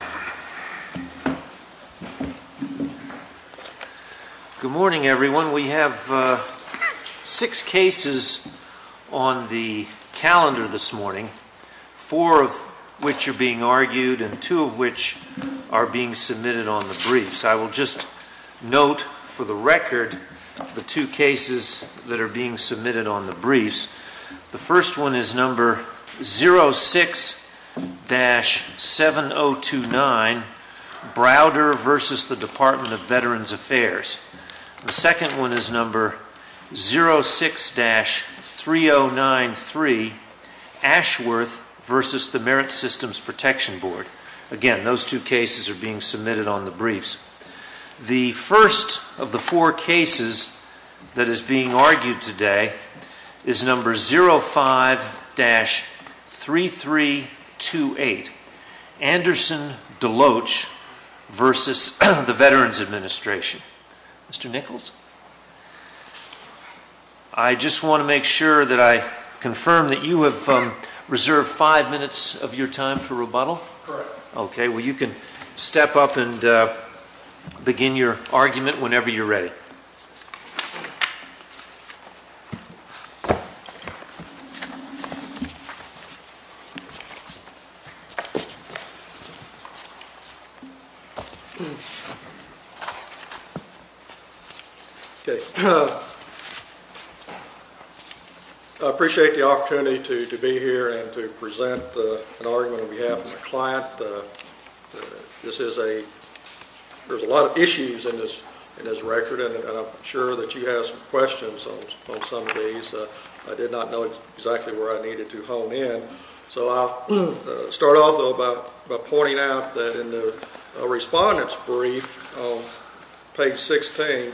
Good morning, everyone. We have six cases on the calendar this morning, four of which are being argued and two of which are being submitted on the briefs. I will just note for the record the two cases that are being submitted on the briefs. The first one is number 06-7029, Browder v. Department of Veterans Affairs. The second one is number 06-3093, Ashworth v. the Merit Systems Protection Board. Again, those two cases are being submitted on the briefs. The first of the four cases that is being argued today is number 05-3328, Anderson-Deloatch v. the Veterans Administration. Mr. Nichols, I just want to make sure that I confirm that you have reserved five minutes of your time for rebuttal? MR. NICHOLS Correct. MR. BROWDER. Okay. Well, you can step up and begin your argument whenever you're ready. MR. NICHOLS Okay. I appreciate the opportunity to be here and to present an argument on behalf of my client. There's a lot of issues in this record, and I'm sure that you have some questions on some of these. I did not know exactly where I needed to hone in. So I'll start off, though, by pointing out that in the Respondent's Brief on page 16,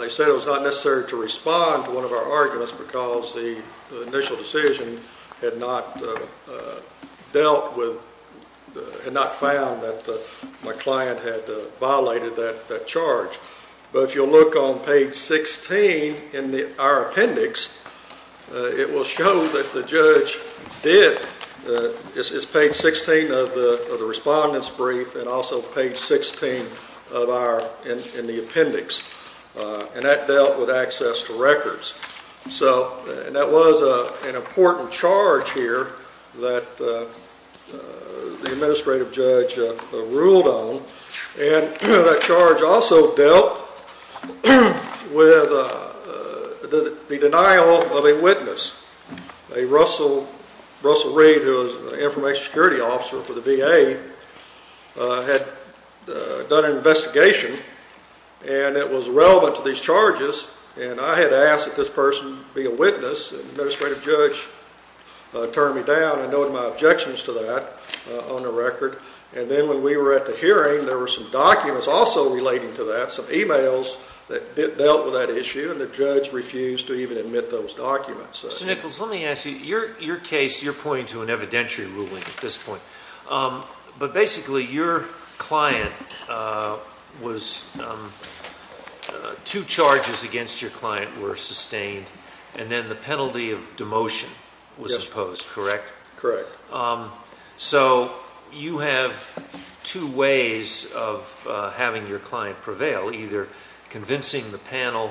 they said it was not necessary to respond to one of our arguments because the initial decision had not found that my client had violated that charge. But if you'll look on page 16 in our appendix, it will show that the judge did. It's page 16 of the Respondent's Brief and also page 16 in the appendix. And that dealt with access to records. And that was an important charge here that the administrative judge ruled on. And that charge also dealt with the denial of a witness. Russell Reed, who was the information security officer for the VA, had done an investigation, and it was relevant to these charges. And I had asked that this person be a witness, and the administrative judge turned me down. I noted my objections to that on the record. And then when we were at the hearing, there were some documents also relating to that, some e-mails that dealt with that issue, and the judge refused to even admit those documents. Mr. Nichols, let me ask you, your case, you're pointing to an evidentiary ruling at this and then the penalty of demotion was imposed, correct? Correct. So you have two ways of having your client prevail, either convincing the panel,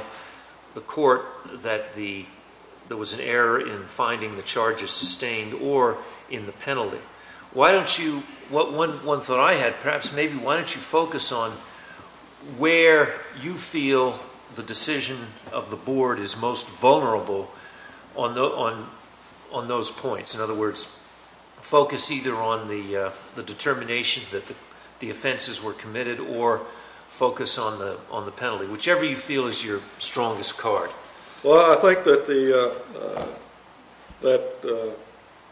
the court, that there was an error in finding the charges sustained, or in the penalty. Why don't you, one thought I had perhaps, maybe why don't you focus on where you feel the decision of the board is most vulnerable on those points? In other words, focus either on the determination that the offenses were committed or focus on the penalty, whichever you feel is your strongest card. Well, I think that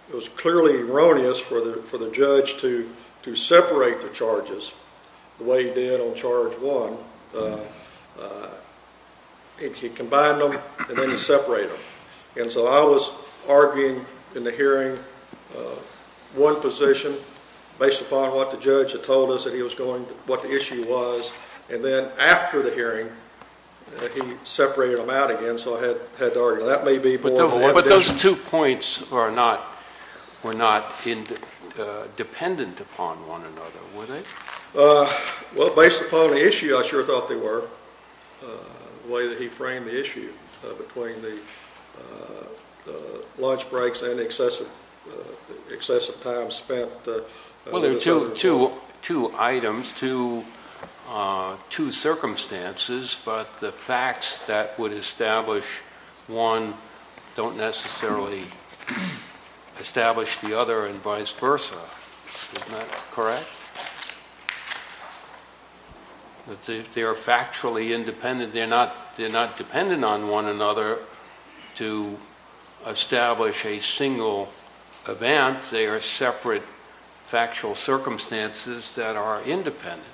it was clearly erroneous for the judge to separate the charges the way he did on charge one. He combined them and then he separated them. And so I was arguing in the hearing one position based upon what the judge had told us that he was going to, what the issue was, and then after the hearing, he separated them out again, so I had to argue. That may be more of an evidentiary. But those two points were not dependent upon one another, were they? Well, based upon the issue, I sure thought they were, the way that he framed the issue between the lunch breaks and the excessive time spent. Well, there are two items, two circumstances, but the facts that would establish one don't necessarily establish the other and vice versa, correct? If they are factually independent, they're not dependent on one another to establish a single event. They are separate factual circumstances that are independent.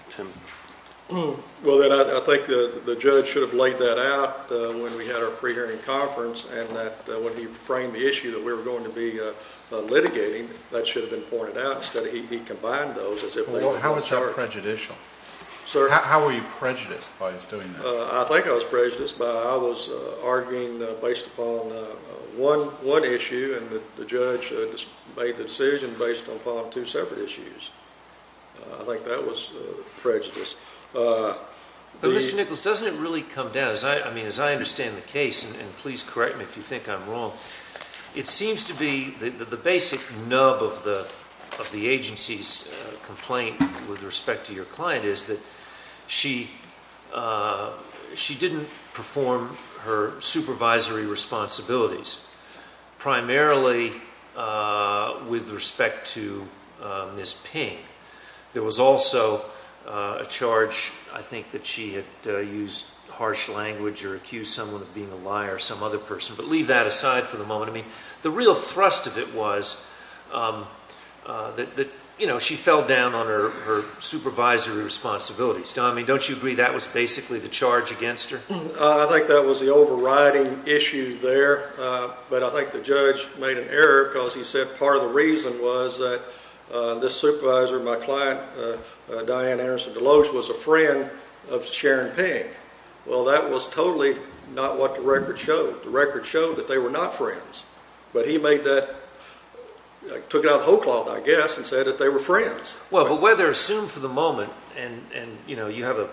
Well then, I think the judge should have laid that out when we had our pre-hearing conference and that when he framed the issue that we were going to be litigating, that should have been pointed out. Instead, he combined those as if they were on charge. Well, how was that prejudicial? How were you prejudiced by his doing that? I think I was prejudiced by, I was arguing based upon one issue and the judge made the decision based upon two separate issues. I think that was prejudice. But Mr. Nichols, doesn't it really come down, as I understand the case, and please correct me if you think I'm wrong, it seems to be that the basic nub of the agency's complaint with respect to your client is that she didn't perform her supervisory responsibilities, primarily with respect to Ms. Ping. There was also a charge, I think, that she had used harsh language or accused someone of being a liar, some other person. But leave that aside for the moment. I mean, the real thrust of it was that, you know, she fell down on her supervisory responsibilities. Don, I mean, don't you agree that was basically the charge against her? I think that was the overriding issue there. But I think the judge made an error because he said part of the reason was that this supervisor, my client, Diane Anderson Deloge, was a friend of Sharon Ping. Well, that was totally not what the record showed. The record showed that they were not friends. But he made that, took it out of the whole cloth, I guess, and said that they were friends. Well, but whether assumed for the moment, and, you know, you have a,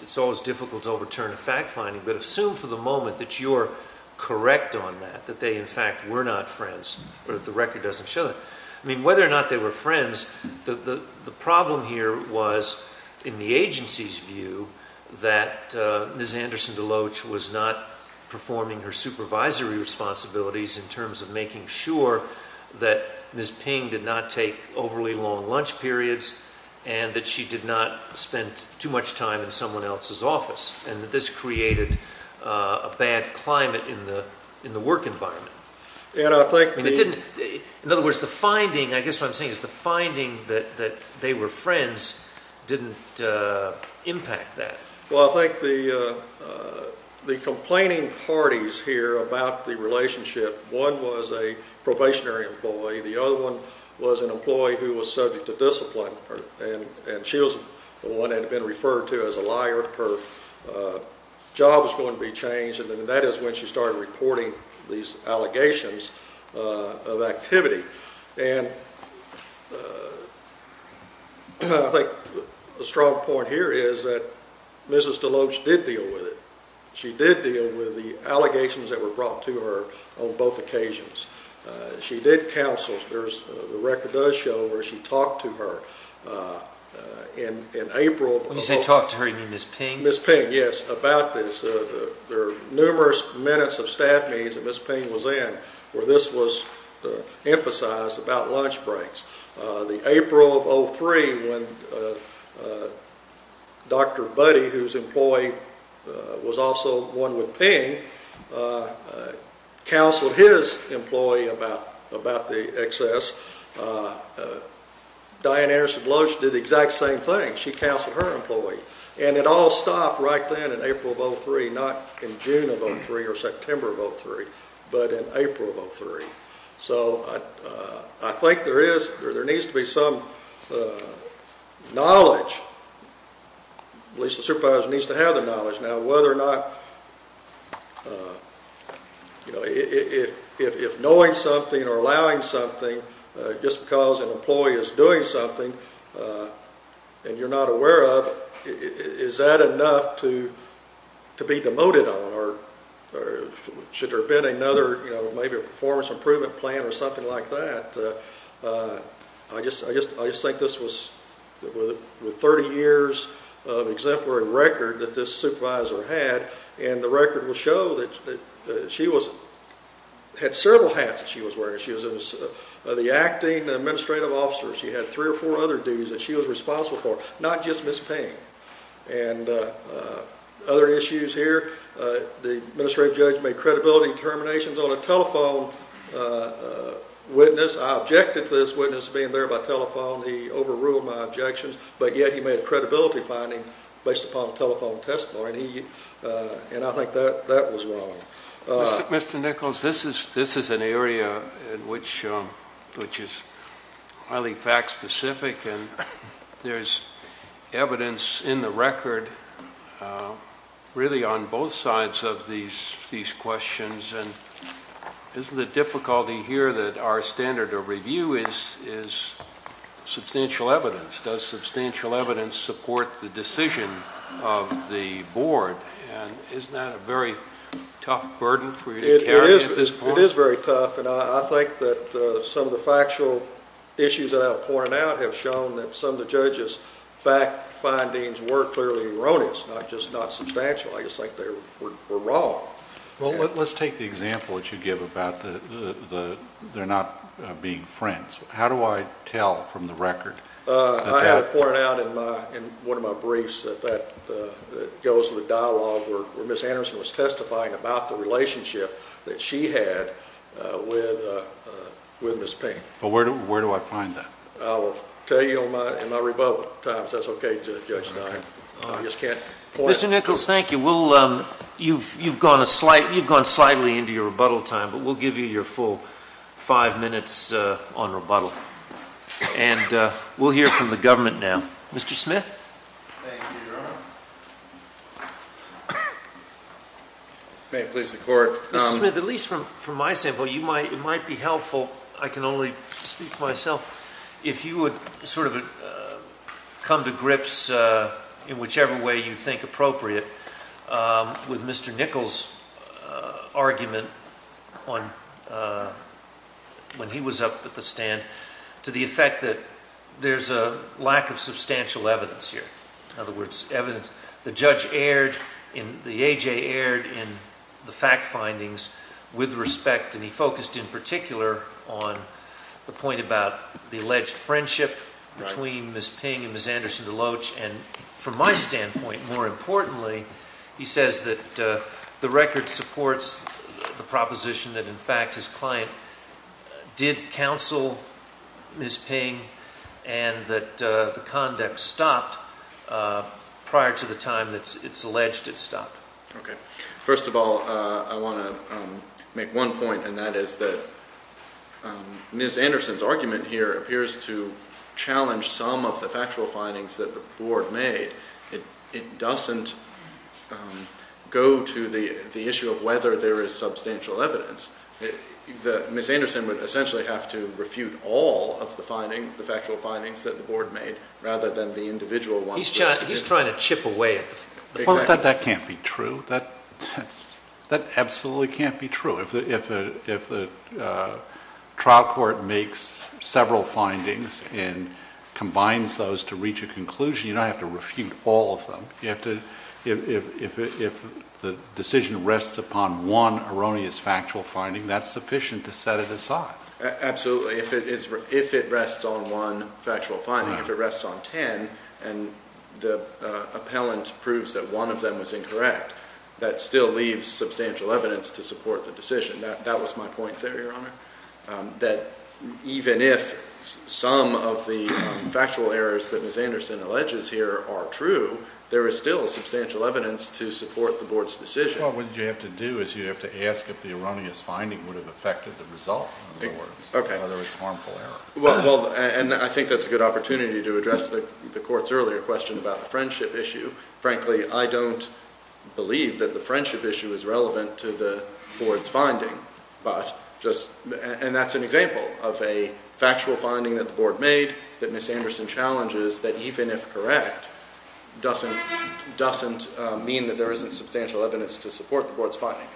it's always difficult to overturn a fact finding, but assume for the moment that you're correct on that, that they, in fact, were not friends, but the record doesn't show that. I mean, whether or not they were friends, the problem here was, in the agency's view, that Ms. Anderson Deloge was not performing her supervisory responsibilities in terms of making sure that Ms. Ping did not take overly long lunch periods and that she did not spend too much time in someone else's office, and that this created a bad climate in the work environment. And I think the... And it didn't, in other words, the finding, I guess what I'm saying is the finding that they were friends didn't impact that. Well, I think the complaining parties here about the relationship, one was a probationary employee, the other one was an employee who was subject to discipline, and she was the one referred to as a liar, her job was going to be changed, and that is when she started reporting these allegations of activity. And I think a strong point here is that Mrs. Deloge did deal with it. She did deal with the allegations that were brought to her on both occasions. She did counsel. The record does show where she talked to her. In April... When you say talked to her, you mean Ms. Ping? Ms. Ping, yes, about this. There are numerous minutes of staff meetings that Ms. Ping was in where this was emphasized about lunch breaks. In April of 2003, when Dr. Buddy, who was an employee, was also one with Ping, counseled his employee about the excess, Diane Anderson Deloge did the exact same thing. She counseled her employee. And it all stopped right then in April of 2003, not in June of 2003 or September of 2003, but in April of 2003. So I think there needs to be some knowledge. At least the supervisor needs to have the knowledge. Now whether or not... If knowing something or allowing something, just because an employee is doing something and you're not aware of it, is that enough to be demoted on? Or should there have been another, maybe a performance improvement plan or something like that? I just think this was with 30 years of exemplary record that this supervisor had and the record will show that she had several hats that she was wearing. She was the acting administrative officer. She had three or four other duties that she was responsible for, not just Ms. Ping. And other issues here, the administrative judge made credibility determinations on a telephone witness. I objected to this witness being there by telephone. He overruled my objections. But yet he made a credibility finding based upon telephone testimony. And I think that was wrong. Mr. Nichols, this is an area which is highly fact specific and there's evidence in the record really on both sides of these questions. And isn't it difficult to hear that our standard of review is substantial evidence? Does substantial evidence support the decision of the board? And isn't that a very tough burden for you to carry at this point? It is very tough. And I think that some of the factual issues that I've pointed out have shown that some of the judges' fact findings were clearly erroneous, not just not substantial. I just think they were wrong. Well, let's take the example that you give about they're not being friends. How do I tell from the record? I have it pointed out in one of my briefs that that goes with dialogue where Ms. Anderson was testifying about the relationship that she had with Ms. Payne. Well, where do I find that? I will tell you in my rebuttal times. That's okay, Judge Dine. Mr. Nichols, thank you. You've gone slightly into your rebuttal time, but we'll give you your full five minutes on rebuttal. And we'll hear from the government now. Mr. Smith? Thank you, Your Honor. May it please the Court? Mr. Smith, at least from my standpoint, it might be helpful, I can only speak for myself, if you would sort of come to grips in whichever way you think appropriate with Mr. Nichols' argument when he was up at the stand to the effect that there's a lack of substantial evidence here. In other words, the judge erred, the A.J. erred in the fact findings with respect and he focused in particular on the point about the alleged friendship between Ms. Payne and Ms. Anderson Deloach. And from my standpoint, more importantly, he says that the record supports the proposition that, in fact, his client did counsel Ms. Payne and that the conduct stopped prior to the time that it's alleged it stopped. Okay. First of all, I want to make one point, and that is that Ms. Anderson's argument here appears to challenge some of the factual findings that the Board made. It doesn't go to the issue of whether there is substantial evidence. Ms. Anderson would essentially have to refute all of the findings, the factual findings that the Board made, rather than the individual ones. Well, that can't be true. That absolutely can't be true. If the trial court makes several findings and combines those to reach a conclusion, you don't have to refute all of them. If the decision rests upon one erroneous factual finding, that's sufficient to set it aside. Absolutely. If it rests on one factual finding, if it rests on ten and the appellant proves that one of them was incorrect, that still leaves substantial evidence to support the decision. That was my point there, Your Honor, that even if some of the factual errors that Ms. Anderson alleges here are true, there is still substantial evidence to support the Board's decision. Well, what you have to do is you have to ask if the erroneous finding would have affected the result, in other words. Okay. Whether it's harmful error. Well, and I think that's a good opportunity to address the Court's earlier question about the friendship issue. Frankly, I don't believe that the friendship issue is relevant to the Board's finding. And that's an example of a factual finding that the Board made that Ms. Anderson challenges that even if correct, doesn't mean that there isn't substantial evidence to support the Board's finding.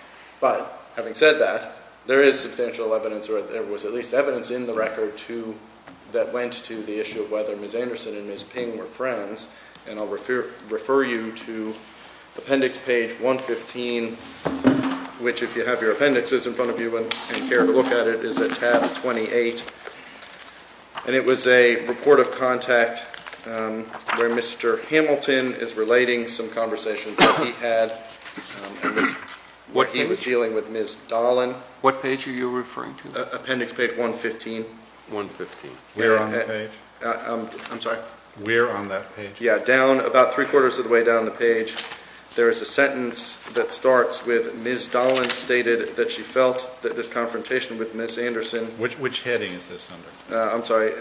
But having said that, there is substantial evidence or there was at least evidence in the record that went to the issue of whether Ms. Anderson and Ms. Ping were friends. And I'll refer you to appendix page 115, which if you have your appendixes in front of you and care to look at it, is at tab 28. And it was a report of contact where Mr. Hamilton is relating some conversations that he had. What page? He was dealing with Ms. Dolan. What page are you referring to? Appendix page 115. 115. Where on the page? I'm sorry. Where on that page? Yeah. Down, about three-quarters of the way down the page, there is a sentence that starts with Ms. Dolan stated that she felt that this confrontation with Ms. Anderson Which heading is this under? I'm sorry.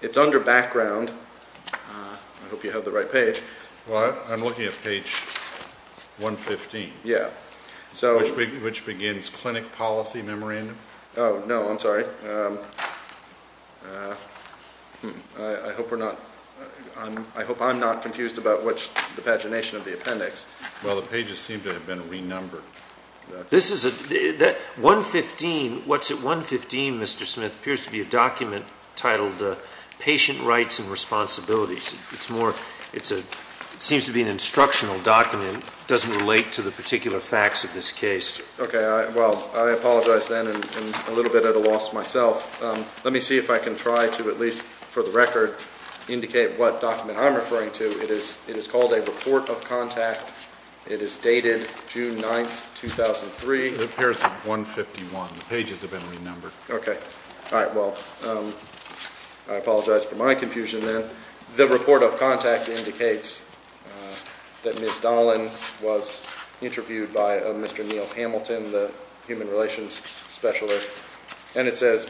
It's under background. I hope you have the right page. Well, I'm looking at page 115. Yeah. Which begins clinic policy memorandum. Oh, no. I'm sorry. I hope I'm not confused about the pagination of the appendix. Well, the pages seem to have been renumbered. 115, what's at 115, Mr. Smith, appears to be a document titled Patient Rights and Responsibilities. It seems to be an instructional document. It doesn't relate to the particular facts of this case. Okay. Well, I apologize then. I'm a little bit at a loss myself. Let me see if I can try to, at least for the record, indicate what document I'm referring to. It is called a report of contact. It is dated June 9, 2003. It appears to be 151. The pages have been renumbered. Okay. All right. Well, I apologize for my confusion then. The report of contact indicates that Ms. Dahlin was interviewed by Mr. Neal Hamilton, the human relations specialist. And it says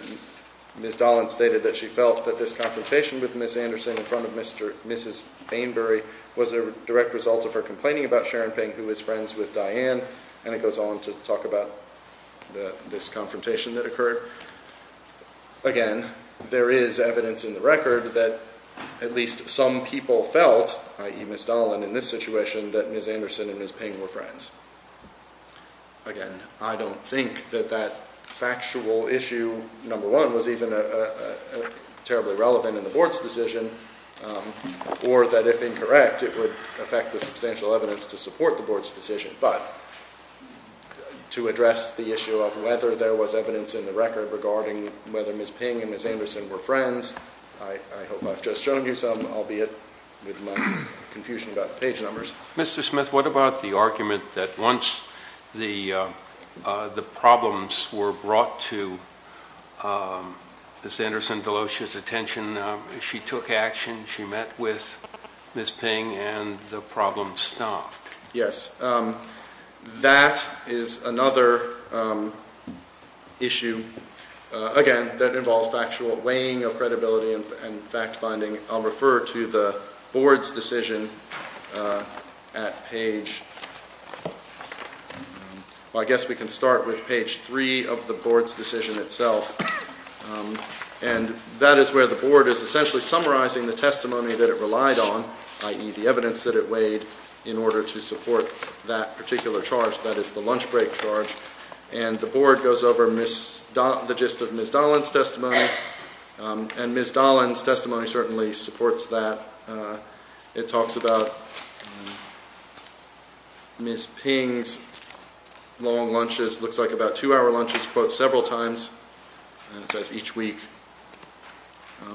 Ms. Dahlin stated that she felt that this confrontation with Ms. Anderson in front of Mrs. Bainbury was a direct result of her complaining about Sharon Ping, who is friends with Diane. And it goes on to talk about this confrontation that occurred. Again, there is evidence in the record that at least some people felt, i.e., Ms. Dahlin in this situation, that Ms. Anderson and Ms. Ping were friends. Again, I don't think that that factual issue, number one, was even terribly relevant in the Board's decision, or that if incorrect, it would affect the substantial evidence to support the Board's decision. But to address the issue of whether there was evidence in the record regarding whether Ms. Ping and Ms. Anderson were friends, I hope I've just shown you some, albeit with my confusion about page numbers. Mr. Smith, what about the argument that once the problems were brought to Ms. Anderson Delosha's attention, she took action, she met with Ms. Ping, and the problem stopped? Yes. That is another issue, again, that involves factual weighing of credibility and fact-finding. I'll refer to the Board's decision at page, well, I guess we can start with page three of the Board's decision itself. And that is where the Board is essentially summarizing the testimony that it relied on, i.e., the evidence that it weighed, in order to support that particular charge, i.e., the lunch break charge. And the Board goes over the gist of Ms. Dolan's testimony, and Ms. Dolan's testimony certainly supports that. It talks about Ms. Ping's long lunches, looks like about two-hour lunches, quote, several times, and it says each week.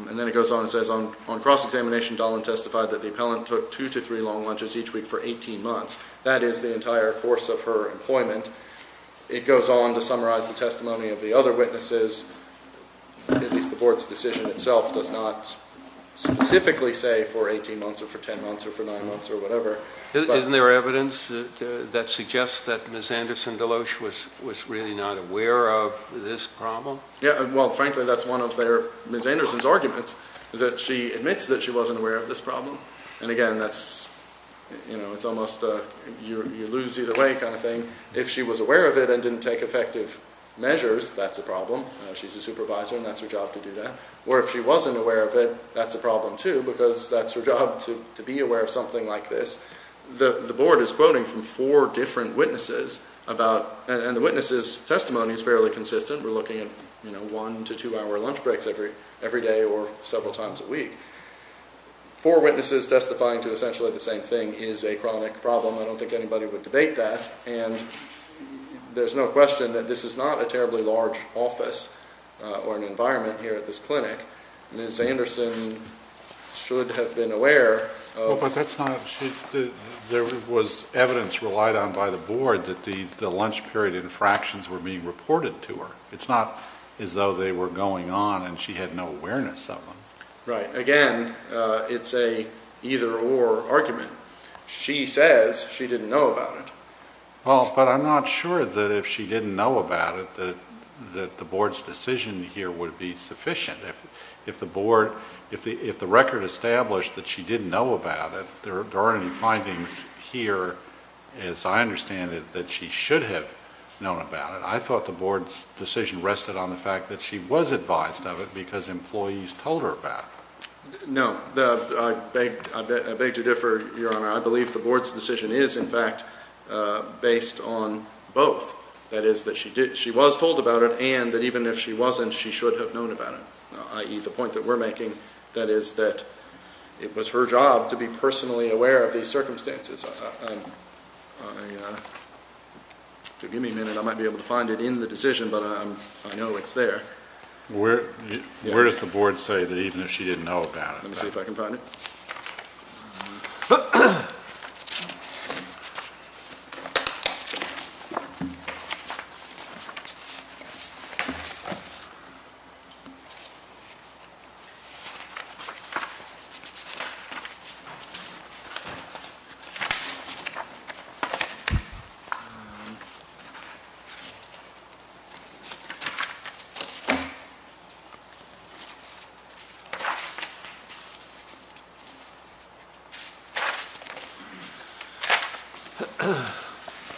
And then it goes on and says, on cross-examination, Dolan testified that the appellant took two to three long lunches each week for 18 months. That is the entire course of her employment. It goes on to summarize the testimony of the other witnesses. At least the Board's decision itself does not specifically say for 18 months or for 10 months or for nine months or whatever. Isn't there evidence that suggests that Ms. Anderson Delosha was really not aware of this problem? Yeah, well, frankly, that's one of Ms. Anderson's arguments, is that she admits that she wasn't aware of this problem. And again, that's, you know, it's almost a you lose either way kind of thing. If she was aware of it and didn't take effective measures, that's a problem. She's a supervisor, and that's her job to do that. Or if she wasn't aware of it, that's a problem, too, because that's her job to be aware of something like this. The Board is quoting from four different witnesses about, and the witnesses' testimony is fairly consistent. We're looking at, you know, one to two-hour lunch breaks every day or several times a week. Four witnesses testifying to essentially the same thing is a chronic problem. I don't think anybody would debate that. And there's no question that this is not a terribly large office or an environment here at this clinic. Ms. Anderson should have been aware of. Well, but that's not, there was evidence relied on by the Board that the lunch period infractions were being reported to her. It's not as though they were going on and she had no awareness of them. Right. Again, it's a either-or argument. She says she didn't know about it. Well, but I'm not sure that if she didn't know about it that the Board's decision here would be sufficient. If the Board, if the record established that she didn't know about it, there aren't any findings here, as I understand it, that she should have known about it. I thought the Board's decision rested on the fact that she was advised of it because employees told her about it. No. I beg to differ, Your Honor. I believe the Board's decision is, in fact, based on both. That is, that she was told about it and that even if she wasn't, she should have known about it, i.e., the point that we're making. That is that it was her job to be personally aware of these circumstances. If you'll give me a minute, I might be able to find it in the decision, but I know it's there. Where does the Board say that even if she didn't know about it? Let me see if I can find it. Oh.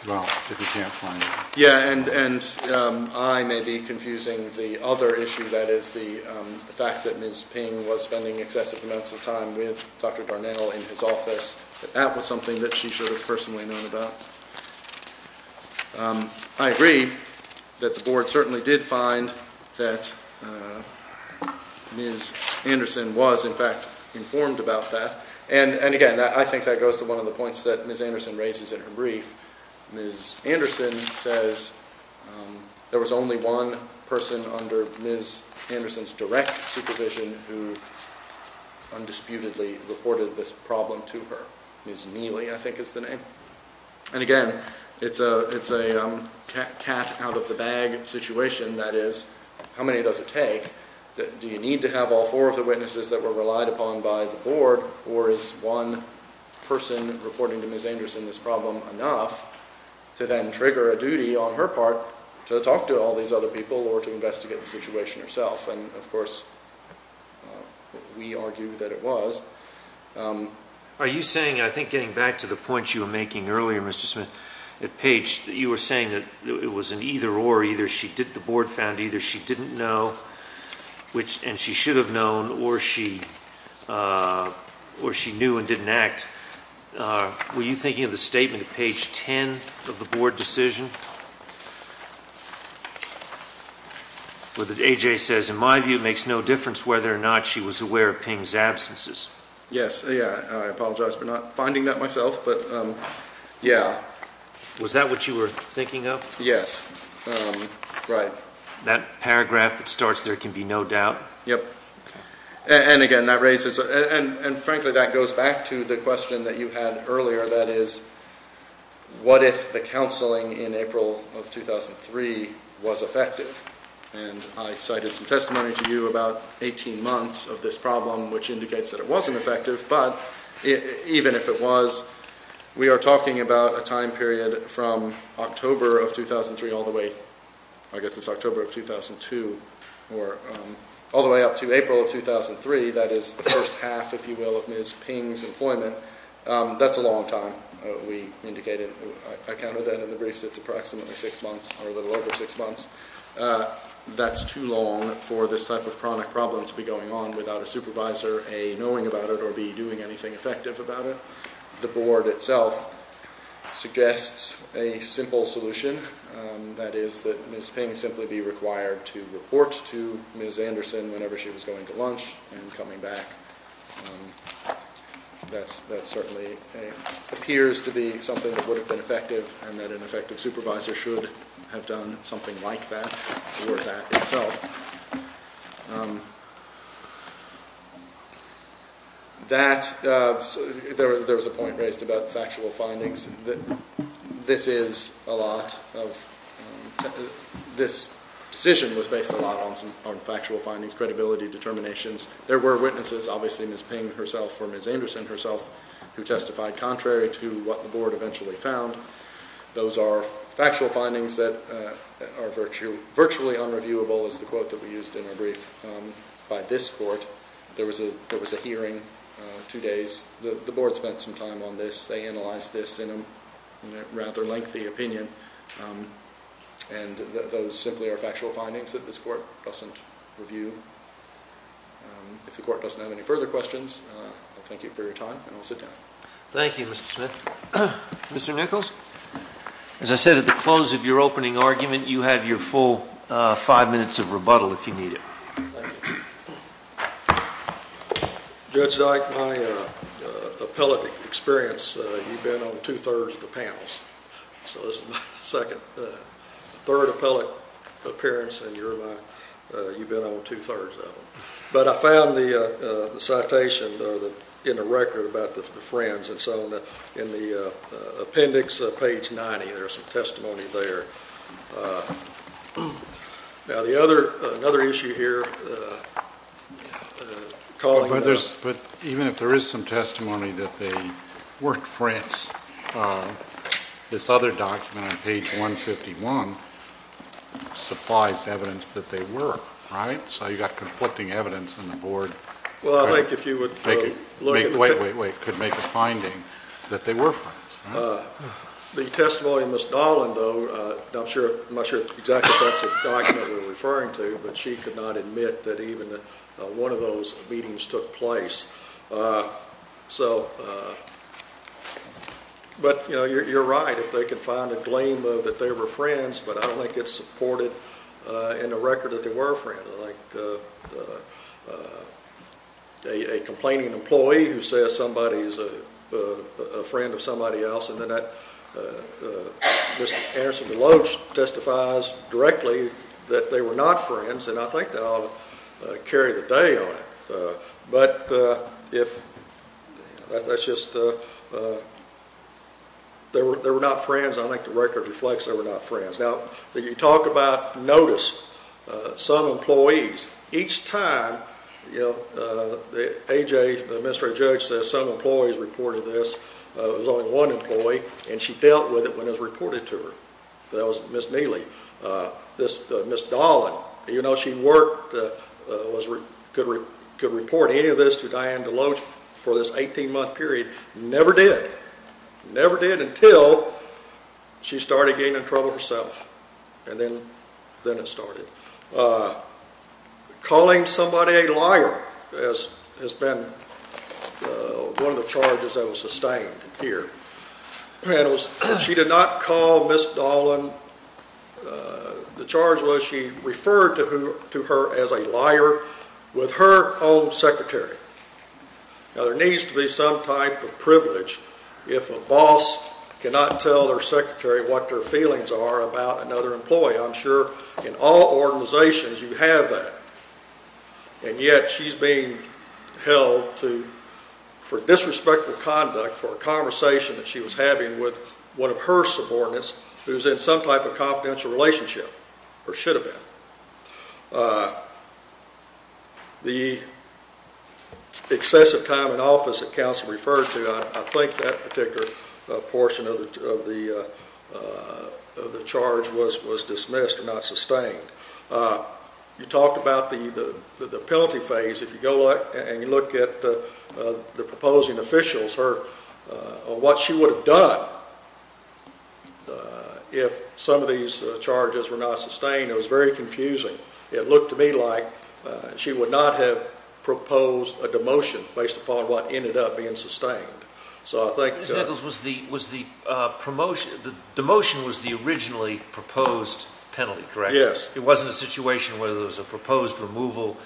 Well, if you can't find it. Yeah, and I may be confusing the other issue, that is, the fact that Ms. Ping was spending excessive amounts of time with Dr. Darnell in his office, that that was something that she should have personally known about. I agree that the Board certainly did find that Ms. Anderson was, in fact, informed about that. And, again, I think that goes to one of the points that Ms. Anderson raises in her brief. Ms. Anderson says there was only one person under Ms. Anderson's direct supervision who undisputedly reported this problem to her. Ms. Neely, I think, is the name. And, again, it's a cat-out-of-the-bag situation, that is, how many does it take? Do you need to have all four of the witnesses that were relied upon by the Board, or is one person reporting to Ms. Anderson this problem enough to then trigger a duty on her part to talk to all these other people or to investigate the situation herself? And, of course, we argue that it was. Are you saying, I think getting back to the point you were making earlier, Mr. Smith, at Page, that you were saying that it was an either-or, either the Board found either she didn't know, and she should have known, or she knew and didn't act? Were you thinking of the statement at page 10 of the Board decision where the A.J. says, in my view, it makes no difference whether or not she was aware of Ping's absences? Yes. I apologize for not finding that myself, but, yeah. Was that what you were thinking of? Yes. Right. That paragraph that starts, there can be no doubt? Yep. And, again, that raises – and, frankly, that goes back to the question that you had earlier, that is, what if the counseling in April of 2003 was effective? And I cited some testimony to you about 18 months of this problem, which indicates that it wasn't effective, but even if it was, we are talking about a time period from October of 2003 all the way – I guess it's October of 2002, or all the way up to April of 2003, that is, the first half, if you will, of Ms. Ping's employment. That's a long time, we indicated. I counted that in the briefs. It's approximately six months, or a little over six months. That's too long for this type of chronic problem to be going on without a supervisor, A, knowing about it, or B, doing anything effective about it. The board itself suggests a simple solution, that is, that Ms. Ping simply be required to report to Ms. Anderson whenever she was going to lunch and coming back. That certainly appears to be something that would have been effective, and that an effective supervisor should have done something like that for that itself. That – there was a point raised about factual findings. This is a lot of – this decision was based a lot on factual findings, credibility determinations. There were witnesses, obviously Ms. Ping herself or Ms. Anderson herself, who testified contrary to what the board eventually found. Those are factual findings that are virtually unreviewable, is the quote that we used in our brief, by this court. There was a hearing, two days. The board spent some time on this. They analyzed this in a rather lengthy opinion, and those simply are factual findings that this court doesn't review. If the court doesn't have any further questions, I thank you for your time, and I'll sit down. Thank you, Mr. Smith. Mr. Nichols, as I said at the close of your opening argument, you have your full five minutes of rebuttal if you need it. Thank you. Judge Dyke, my appellate experience, you've been on two-thirds of the panels. So this is my second – third appellate appearance, and you're my – you've been on two-thirds of them. But I found the citation in the record about the Friends, and so in the appendix, page 90, there's some testimony there. Now, the other – another issue here, calling – But even if there is some testimony that they weren't Friends, this other document on page 151 supplies evidence that they were, right? So you've got conflicting evidence on the board. Well, I think if you would look at – Wait, wait, wait. It could make a finding that they were Friends, right? The testimony of Ms. Dahlin, though, I'm sure – I'm not sure exactly if that's the document we're referring to, but she could not admit that even one of those meetings took place. So – but, you know, you're right. If they could find a claim that they were Friends, but I don't think it's supported in the record that they were Friends. Like a complaining employee who says somebody is a friend of somebody else, and then that Mr. Anderson-Deloach testifies directly that they were not Friends, and I think that ought to carry the day on it. But if – that's just – they were not Friends, and I think the record reflects they were not Friends. Now, you talk about notice. Some employees, each time, you know, AJ, the administrative judge, says some employees reported this. There was only one employee, and she dealt with it when it was reported to her. That was Ms. Neely. Ms. Dahlin, even though she worked, could report any of this to Diane Deloach for this 18-month period, never did. Never did until she started getting in trouble herself, and then it started. Calling somebody a liar has been one of the charges that was sustained here. She did not call Ms. Dahlin. The charge was she referred to her as a liar with her own secretary. Now, there needs to be some type of privilege if a boss cannot tell their secretary what their feelings are about another employee. I'm sure in all organizations you have that, and yet she's being held for disrespectful conduct for a conversation that she was having with one of her subordinates who's in some type of confidential relationship, or should have been. The excessive time in office that counsel referred to, I think that particular portion of the charge was dismissed and not sustained. You talked about the penalty phase. If you go and you look at the proposing officials or what she would have done if some of these charges were not sustained, it was very confusing. It looked to me like she would not have proposed a demotion based upon what ended up being sustained. Demotion was the originally proposed penalty, correct? Yes. It wasn't a situation where there was a proposed removal,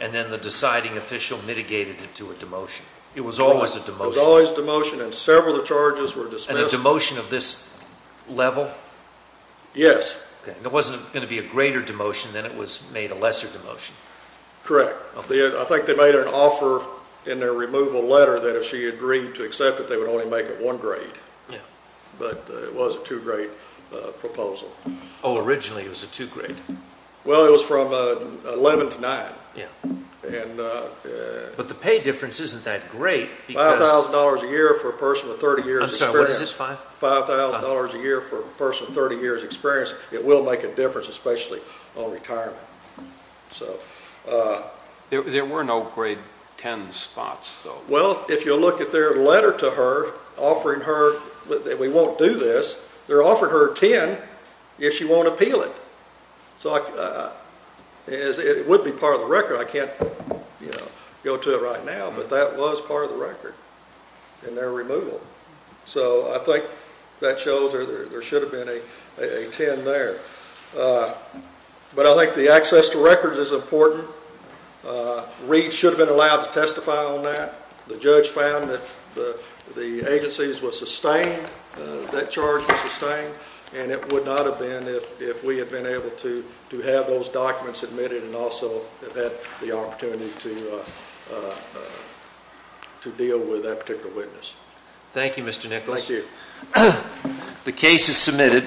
and then the deciding official mitigated it to a demotion. It was always a demotion. It was always a demotion, and several of the charges were dismissed. And a demotion of this level? Yes. It wasn't going to be a greater demotion than it was made a lesser demotion. Correct. I think they made an offer in their removal letter that if she agreed to accept it, they would only make it one grade. But it was a two-grade proposal. Originally it was a two-grade. Well, it was from 11 to 9. But the pay difference isn't that great. $5,000 a year for a person with 30 years' experience. I'm sorry, what is it? $5,000 a year for a person with 30 years' experience. It will make a difference, especially on retirement. There were no grade 10 spots, though. Well, if you look at their letter to her offering her that we won't do this, they offered her 10 if she won't appeal it. It would be part of the record. I can't go to it right now, but that was part of the record in their removal. So I think that shows there should have been a 10 there. But I think the access to records is important. Reed should have been allowed to testify on that. The judge found that the agency was sustained, that charge was sustained, and it would not have been if we had been able to have those documents admitted and also have had the opportunity to deal with that particular witness. Thank you, Mr. Nichols. Thank you. The case is submitted.